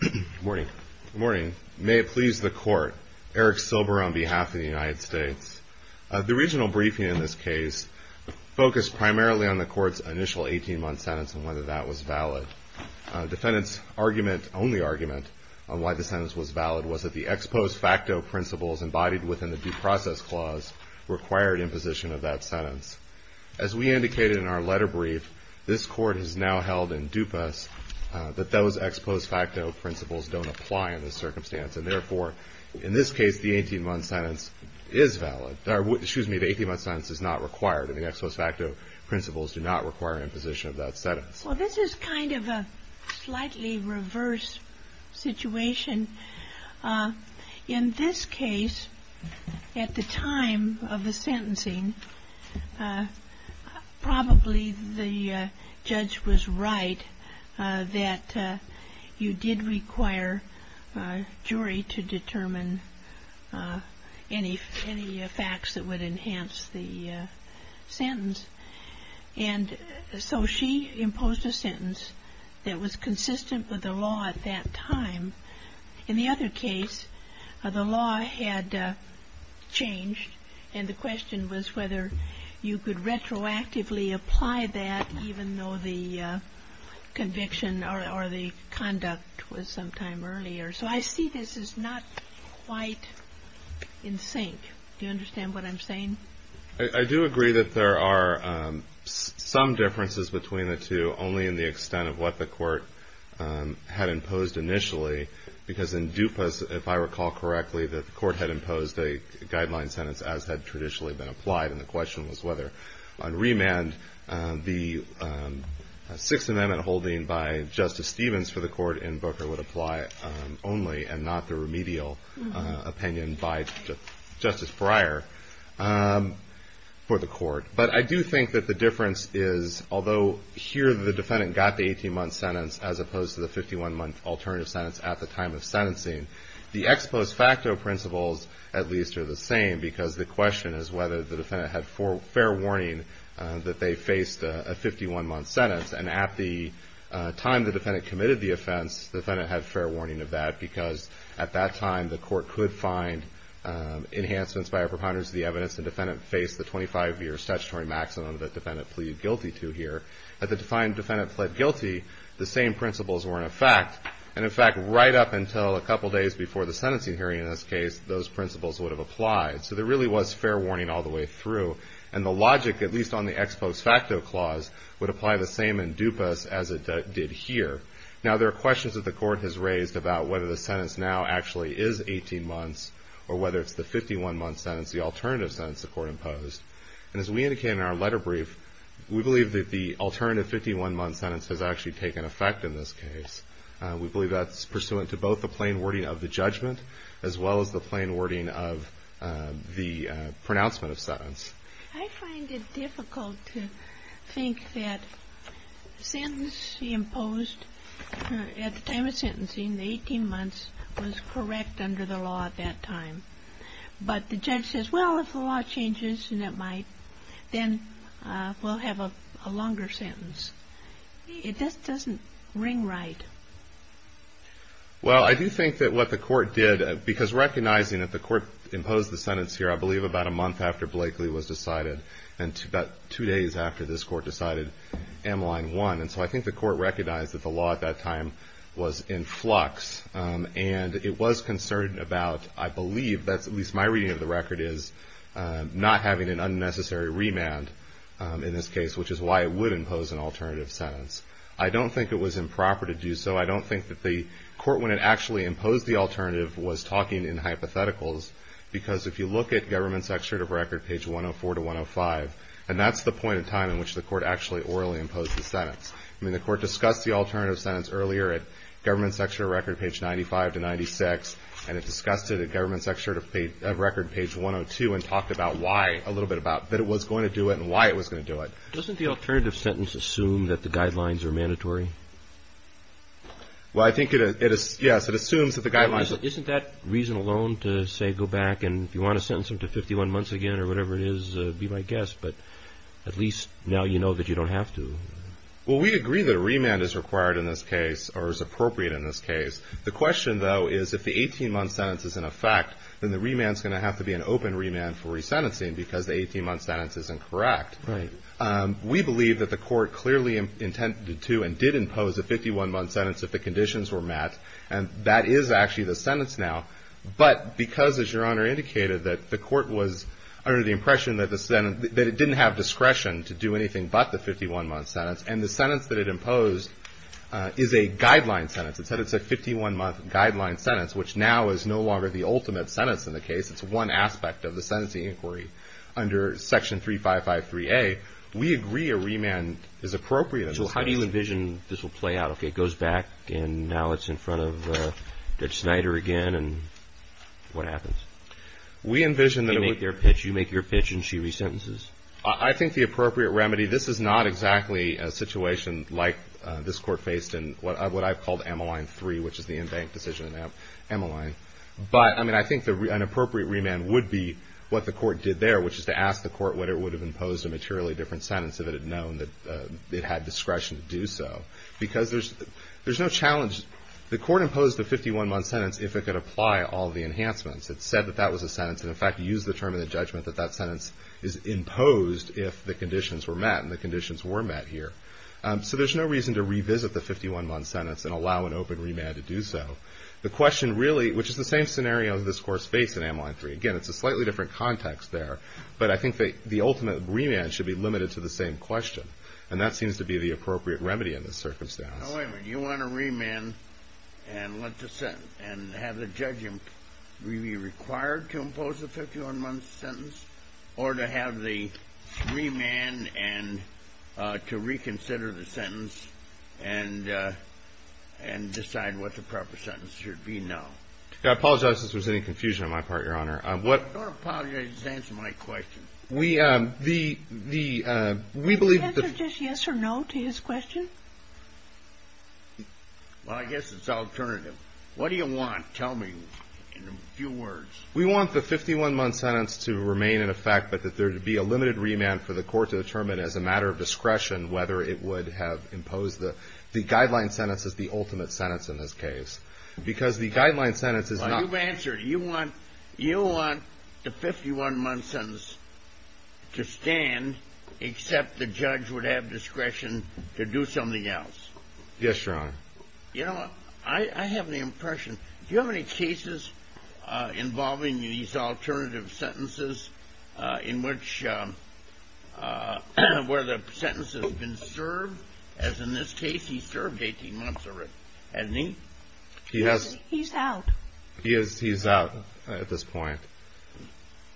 Good morning. May it please the Court, Eric Silber on behalf of the United States. The regional briefing in this case focused primarily on the Court's initial 18-month sentence and whether that was valid. The defendant's only argument on why the sentence was valid was that the ex post facto principles embodied within the due process clause required imposition of that sentence. As we indicated in our letter brief, this Court has now held in dupas that those ex post facto principles don't apply in this circumstance. And therefore, in this case, the 18-month sentence is valid. Excuse me, the 18-month sentence is not required, and the ex post facto principles do not require imposition of that sentence. Well, this is kind of a slightly reverse situation. In this case, at the time of the sentencing, probably the judge was right that you did require a jury to determine any facts that would enhance the sentence. And so she imposed a sentence that was consistent with the law at that time. In the other case, the law had changed, and the question was whether you could retroactively apply that, even though the conviction or the conduct was some time earlier. So I see this as not quite in sync. Do you understand what I'm saying? I do agree that there are some differences between the two, only in the extent of what the Court had imposed initially. Because in dupas, if I recall correctly, the Court had imposed a guideline sentence as had traditionally been applied, and the question was whether on remand the Sixth Amendment holding by Justice Stevens for the Court in Booker would apply only, and not the remedial opinion by Justice Breyer for the Court. But I do think that the difference is, although here the defendant got the 18-month sentence, as opposed to the 51-month alternative sentence at the time of sentencing, the ex post facto principles at least are the same, because the question is whether the defendant had fair warning that they faced a 51-month sentence. And at the time the defendant committed the offense, the defendant had fair warning of that, because at that time the Court could find enhancements by a preponderance of the evidence, and the defendant faced the 25-year statutory maximum that the defendant pleaded guilty to here. At the time the defendant pled guilty, the same principles were in effect. And in fact, right up until a couple days before the sentencing hearing in this case, those principles would have applied. So there really was fair warning all the way through. And the logic, at least on the ex post facto clause, would apply the same in dupas as it did here. Now there are questions that the Court has raised about whether the sentence now actually is 18 months, or whether it's the 51-month sentence, the alternative sentence the Court imposed. And as we indicated in our letter brief, we believe that the alternative 51-month sentence has actually taken effect in this case. We believe that's pursuant to both the plain wording of the judgment, as well as the plain wording of the pronouncement of sentence. I find it difficult to think that the sentence she imposed at the time of sentencing, the 18 months, was correct under the law at that time. But the judge says, well, if the law changes and it might, then we'll have a longer sentence. It just doesn't ring right. Well, I do think that what the Court did, because recognizing that the Court imposed the sentence here, I believe about a month after Blakely was decided, and about two days after this Court decided, Mline won. And so I think the Court recognized that the law at that time was in flux. And it was concerned about, I believe, that's at least my reading of the record, is not having an unnecessary remand in this case, which is why it would impose an alternative sentence. I don't think it was improper to do so. I don't think that the Court, when it actually imposed the alternative, was talking in hypotheticals. Because if you look at Government's Extractive Record, page 104 to 105, and that's the point in time in which the Court actually orally imposed the sentence. I mean, the Court discussed the alternative sentence earlier at Government's Extractive Record, page 95 to 96. And it discussed it at Government's Extractive Record, page 102, and talked about why a little bit about that it was going to do it and why it was going to do it. Doesn't the alternative sentence assume that the guidelines are mandatory? Well, I think it is, yes, it assumes that the guidelines are. Isn't that reason alone to say go back and if you want to sentence him to 51 months again or whatever it is, be my guest. But at least now you know that you don't have to. Well, we agree that a remand is required in this case or is appropriate in this case. The question, though, is if the 18-month sentence is in effect, then the remand is going to have to be an open remand for resentencing because the 18-month sentence is incorrect. Right. We believe that the Court clearly intended to and did impose a 51-month sentence if the conditions were met. And that is actually the sentence now. But because, as Your Honor indicated, that the Court was under the impression that the sentence that it didn't have discretion to do anything but the 51-month sentence, and the sentence that it imposed is a guideline sentence. It said it's a 51-month guideline sentence, which now is no longer the ultimate sentence in the case. It's one aspect of the sentencing inquiry under Section 3553A. We agree a remand is appropriate in this case. So how do you envision this will play out? Okay, it goes back, and now it's in front of Judge Snyder again, and what happens? We envision that it would be. They make their pitch. You make your pitch, and she resentences. I think the appropriate remedy, this is not exactly a situation like this Court faced in what I've called Ammaline 3, which is the in-bank decision in Ammaline. But, I mean, I think an appropriate remand would be what the Court did there, which is to ask the Court what it would have imposed a materially different sentence if it had known that it had discretion to do so. Because there's no challenge. The Court imposed the 51-month sentence if it could apply all the enhancements. It said that that was a sentence, and, in fact, used the term in the judgment that that sentence is imposed if the conditions were met, and the conditions were met here. So there's no reason to revisit the 51-month sentence and allow an open remand to do so. The question really, which is the same scenario that this Court faced in Ammaline 3. Again, it's a slightly different context there, but I think the ultimate remand should be limited to the same question, and that seems to be the appropriate remedy in this circumstance. Now, wait a minute. You want a remand and let the sentence, and have the judge be required to impose the 51-month sentence, or to have the remand and to reconsider the sentence and decide what the proper sentence should be? No. I apologize if there's any confusion on my part, Your Honor. Don't apologize. Just answer my question. We believe that the — Can you answer just yes or no to his question? Well, I guess it's alternative. What do you want? Tell me in a few words. We want the 51-month sentence to remain in effect, but that there be a limited remand for the Court to determine as a matter of discretion whether it would have imposed the guideline sentence as the ultimate sentence in this case. Because the guideline sentence is not — Well, you've answered it. You want the 51-month sentence to stand, except the judge would have discretion to do something else. Yes, Your Honor. You know, I have the impression — Do you have any cases involving these alternative sentences in which — where the sentence has been served? As in this case, he served 18 months already, hasn't he? He has. He's out. He's out at this point.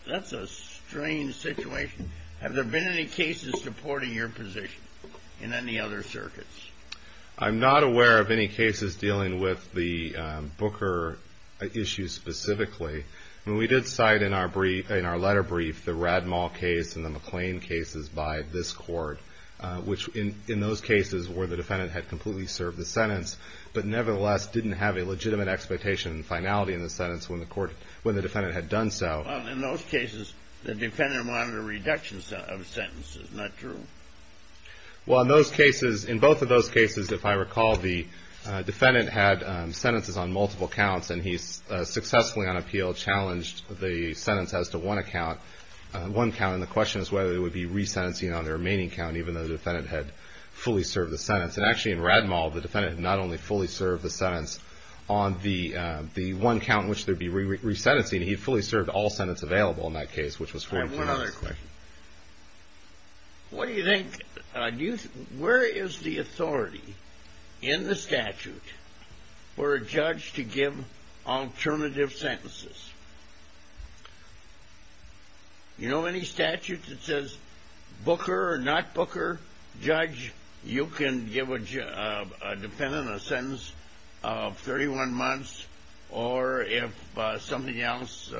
That's a strange situation. Have there been any cases supporting your position in any other circuits? I'm not aware of any cases dealing with the Booker issue specifically. I mean, we did cite in our letter brief the Rademal case and the McLean cases by this Court, which in those cases were the defendant had completely served the sentence but nevertheless didn't have a legitimate expectation and finality in the sentence when the defendant had done so. Well, in those cases, the defendant wanted a reduction of sentences. Isn't that true? Well, in those cases — in both of those cases, if I recall, the defendant had sentences on multiple counts, and he successfully on appeal challenged the sentence as to one count. And the question is whether there would be resentencing on the remaining count, even though the defendant had fully served the sentence. And actually in Rademal, the defendant had not only fully served the sentence on the one count in which there would be resentencing, he had fully served all sentences available in that case, which was 14 months. I have one other question. What do you think — where is the authority in the statute for a judge to give alternative sentences? You know any statute that says Booker or not Booker? Judge, you can give a defendant a sentence of 31 months, or if something else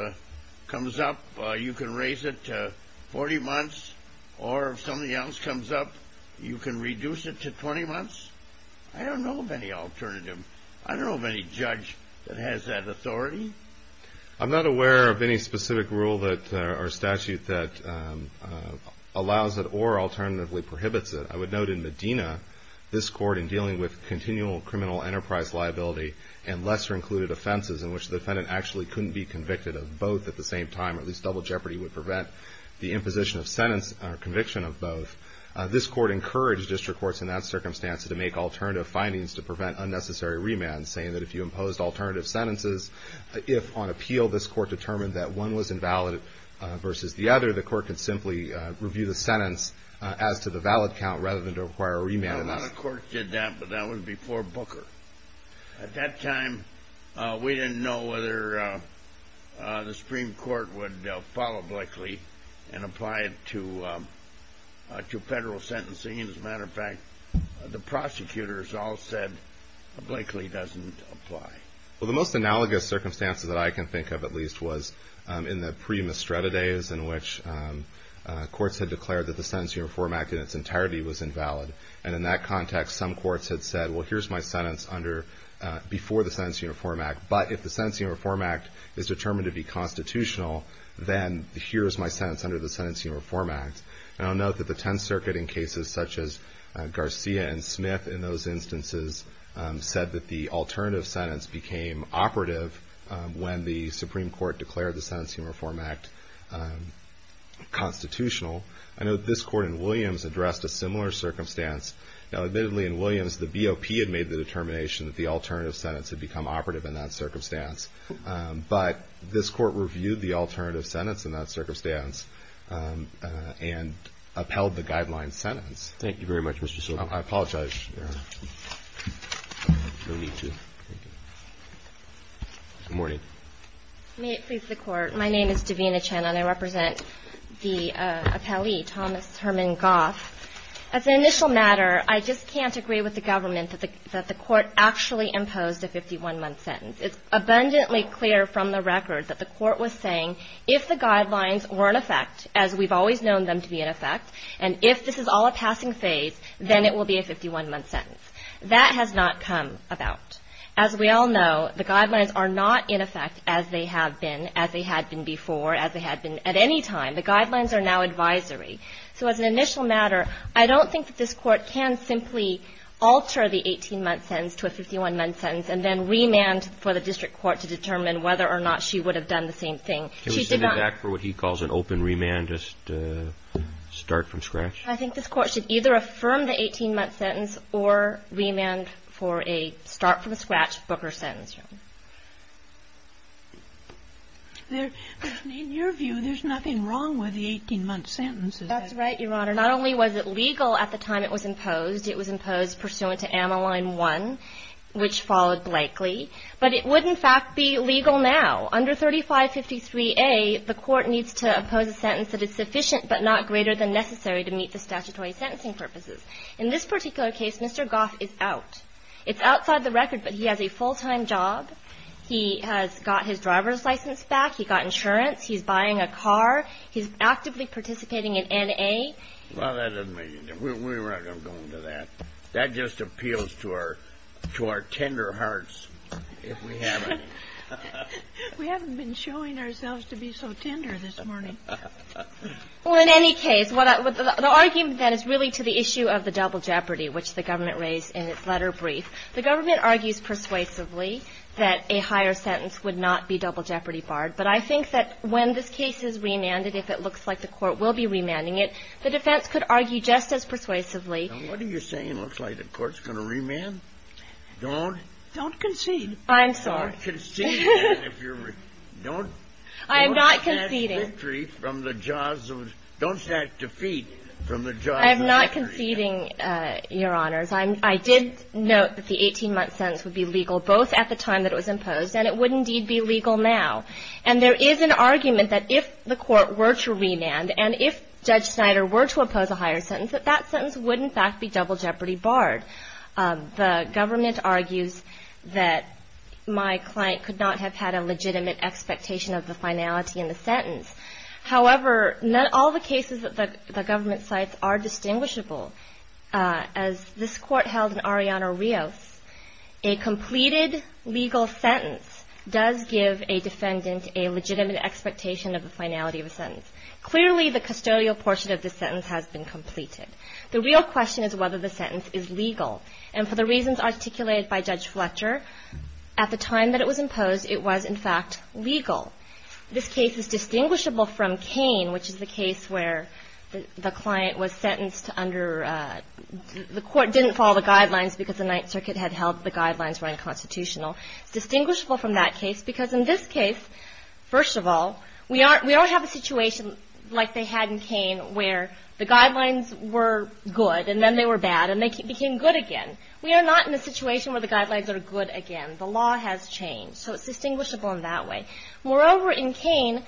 comes up, you can raise it to 40 months, or if something else comes up, you can reduce it to 20 months? I don't know of any alternative. I don't know of any judge that has that authority. I'm not aware of any specific rule or statute that allows it or alternatively prohibits it. I would note in Medina, this court in dealing with continual criminal enterprise liability and lesser included offenses in which the defendant actually couldn't be convicted of both at the same time, at least double jeopardy would prevent the imposition of sentence or conviction of both. This court encouraged district courts in that circumstance to make alternative findings to prevent unnecessary remand, saying that if you imposed alternative sentences, if on appeal this court determined that one was invalid versus the other, the court could simply review the sentence as to the valid count rather than to require a remand. A lot of courts did that, but that was before Booker. At that time, we didn't know whether the Supreme Court would follow Blakely and apply it to federal sentencing. As a matter of fact, the prosecutors all said Blakely doesn't apply. Well, the most analogous circumstances that I can think of at least was in the pre-Mistretta days in which courts had declared that the Sentencing Reform Act in its entirety was invalid. And in that context, some courts had said, well, here's my sentence before the Sentencing Reform Act. But if the Sentencing Reform Act is determined to be constitutional, then here is my sentence under the Sentencing Reform Act. And I'll note that the Tenth Circuit in cases such as Garcia and Smith in those instances said that the alternative sentence became operative when the Supreme Court declared the Sentencing Reform Act constitutional. I note this court in Williams addressed a similar circumstance. Now, admittedly, in Williams, the BOP had made the determination that the alternative sentence had become operative in that circumstance. But this court reviewed the alternative sentence in that circumstance and upheld the guideline sentence. Thank you very much, Mr. Sobel. I apologize. No need to. Thank you. Good morning. May it please the Court. My name is Davina Chen, and I represent the appellee, Thomas Herman Goff. As an initial matter, I just can't agree with the government that the court actually imposed a 51-month sentence. It's abundantly clear from the record that the court was saying if the guidelines were in effect, as we've always known them to be in effect, and if this is all a passing phase, then it will be a 51-month sentence. That has not come about. As we all know, the guidelines are not in effect as they have been, as they had been before, as they had been at any time. The guidelines are now advisory. So as an initial matter, I don't think that this court can simply alter the 18-month sentence to a 51-month sentence and then remand for the district court to determine whether or not she would have done the same thing. She did not. Can we send it back for what he calls an open remand just to start from scratch? I think this court should either affirm the 18-month sentence or remand for a start from scratch, book or sentence. In your view, there's nothing wrong with the 18-month sentence, is there? That's right, Your Honor. Not only was it legal at the time it was imposed, it was imposed pursuant to Ameline 1, which followed Blakely. But it would, in fact, be legal now. Under 3553A, the court needs to impose a sentence that is sufficient but not greater than necessary to meet the statutory sentencing purposes. In this particular case, Mr. Goff is out. It's outside the record, but he has a full-time job. He has got his driver's license back. He got insurance. He's buying a car. He's actively participating in N.A. Well, that doesn't make any difference. We're not going to go into that. That just appeals to our tender hearts if we have any. We haven't been showing ourselves to be so tender this morning. Well, in any case, the argument, then, is really to the issue of the double jeopardy, which the government raised in its letter brief. The government argues persuasively that a higher sentence would not be double jeopardy barred, but I think that when this case is remanded, if it looks like the court will be remanding it, the defense could argue just as persuasively. Now, what are you saying looks like the court's going to remand? Don't. Don't concede. I'm sorry. Don't concede. Don't. I'm not conceding. Don't snatch victory from the jaws of the. Don't snatch defeat from the jaws of victory. I'm not conceding, Your Honors. I did note that the 18-month sentence would be legal both at the time that it was imposed and it would indeed be legal now. And there is an argument that if the court were to remand and if Judge Snyder were to oppose a higher sentence, that that sentence would in fact be double jeopardy barred. The government argues that my client could not have had a legitimate expectation of the finality in the sentence. However, not all the cases that the government cites are distinguishable. As this Court held in Arellano-Rios, a completed legal sentence does give a defendant a legitimate expectation of the finality of a sentence. Clearly, the custodial portion of the sentence has been completed. The real question is whether the sentence is legal. And for the reasons articulated by Judge Fletcher, at the time that it was imposed, it was in fact legal. This case is distinguishable from Kane, which is the case where the client was sentenced under the court didn't follow the guidelines because the Ninth Circuit had held the guidelines were unconstitutional. It's distinguishable from that case because in this case, first of all, we don't have a situation like they had in Kane where the guidelines were good and then they were bad and they became good again. We are not in a situation where the guidelines are good again. The law has changed. So it's distinguishable in that way. Moreover, in Kane,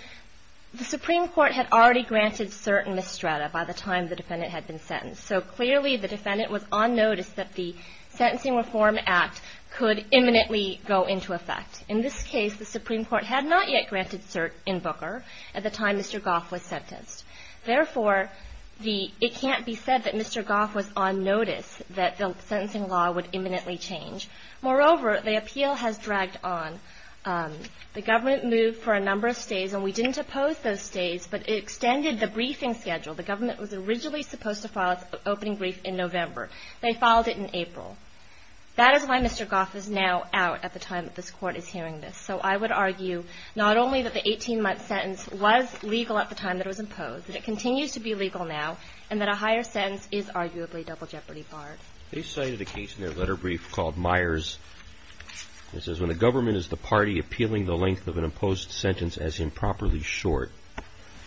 the Supreme Court had already granted cert in Mistrada by the time the defendant had been sentenced. So clearly, the defendant was on notice that the Sentencing Reform Act could imminently go into effect. In this case, the Supreme Court had not yet granted cert in Booker at the time Mr. Goff was sentenced. Therefore, it can't be said that Mr. Goff was on notice that the sentencing law would imminently change. Moreover, the appeal has dragged on. The government moved for a number of stays, and we didn't oppose those stays, but it extended the briefing schedule. The government was originally supposed to file its opening brief in November. They filed it in April. That is why Mr. Goff is now out at the time that this Court is hearing this. So I would argue not only that the 18-month sentence was legal at the time that it was imposed, that it continues to be legal now, and that a higher sentence is arguably double jeopardy barred. They cited a case in their letter brief called Myers that says, When the government is the party appealing the length of an imposed sentence as improperly short,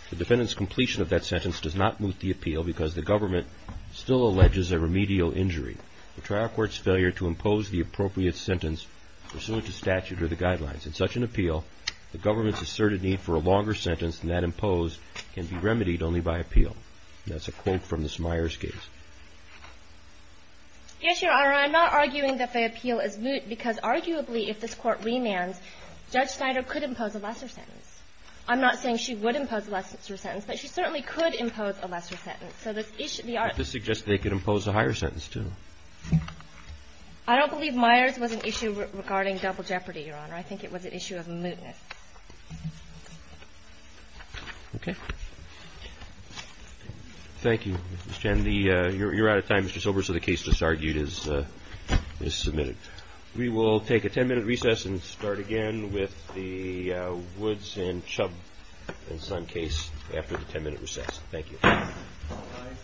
the defendant's completion of that sentence does not moot the appeal because the government still alleges a remedial injury. The trial court's failure to impose the appropriate sentence pursuant to statute or the guidelines in such an appeal, the government's asserted need for a longer sentence than that imposed can be remedied only by appeal. That's a quote from this Myers case. Yes, Your Honor. I'm not arguing that they appeal as moot because arguably, if this Court remands, Judge Snyder could impose a lesser sentence. I'm not saying she would impose a lesser sentence, but she certainly could impose a lesser sentence. So this issue beyond the ---- But this suggests they could impose a higher sentence, too. I don't believe Myers was an issue regarding double jeopardy, Your Honor. I think it was an issue of mootness. Okay. Thank you, Ms. Chen. You're out of time, Mr. Sobers, so the case that's argued is submitted. We will take a ten-minute recess and start again with the Woods and Chubb and Son case after the ten-minute recess. Thank you.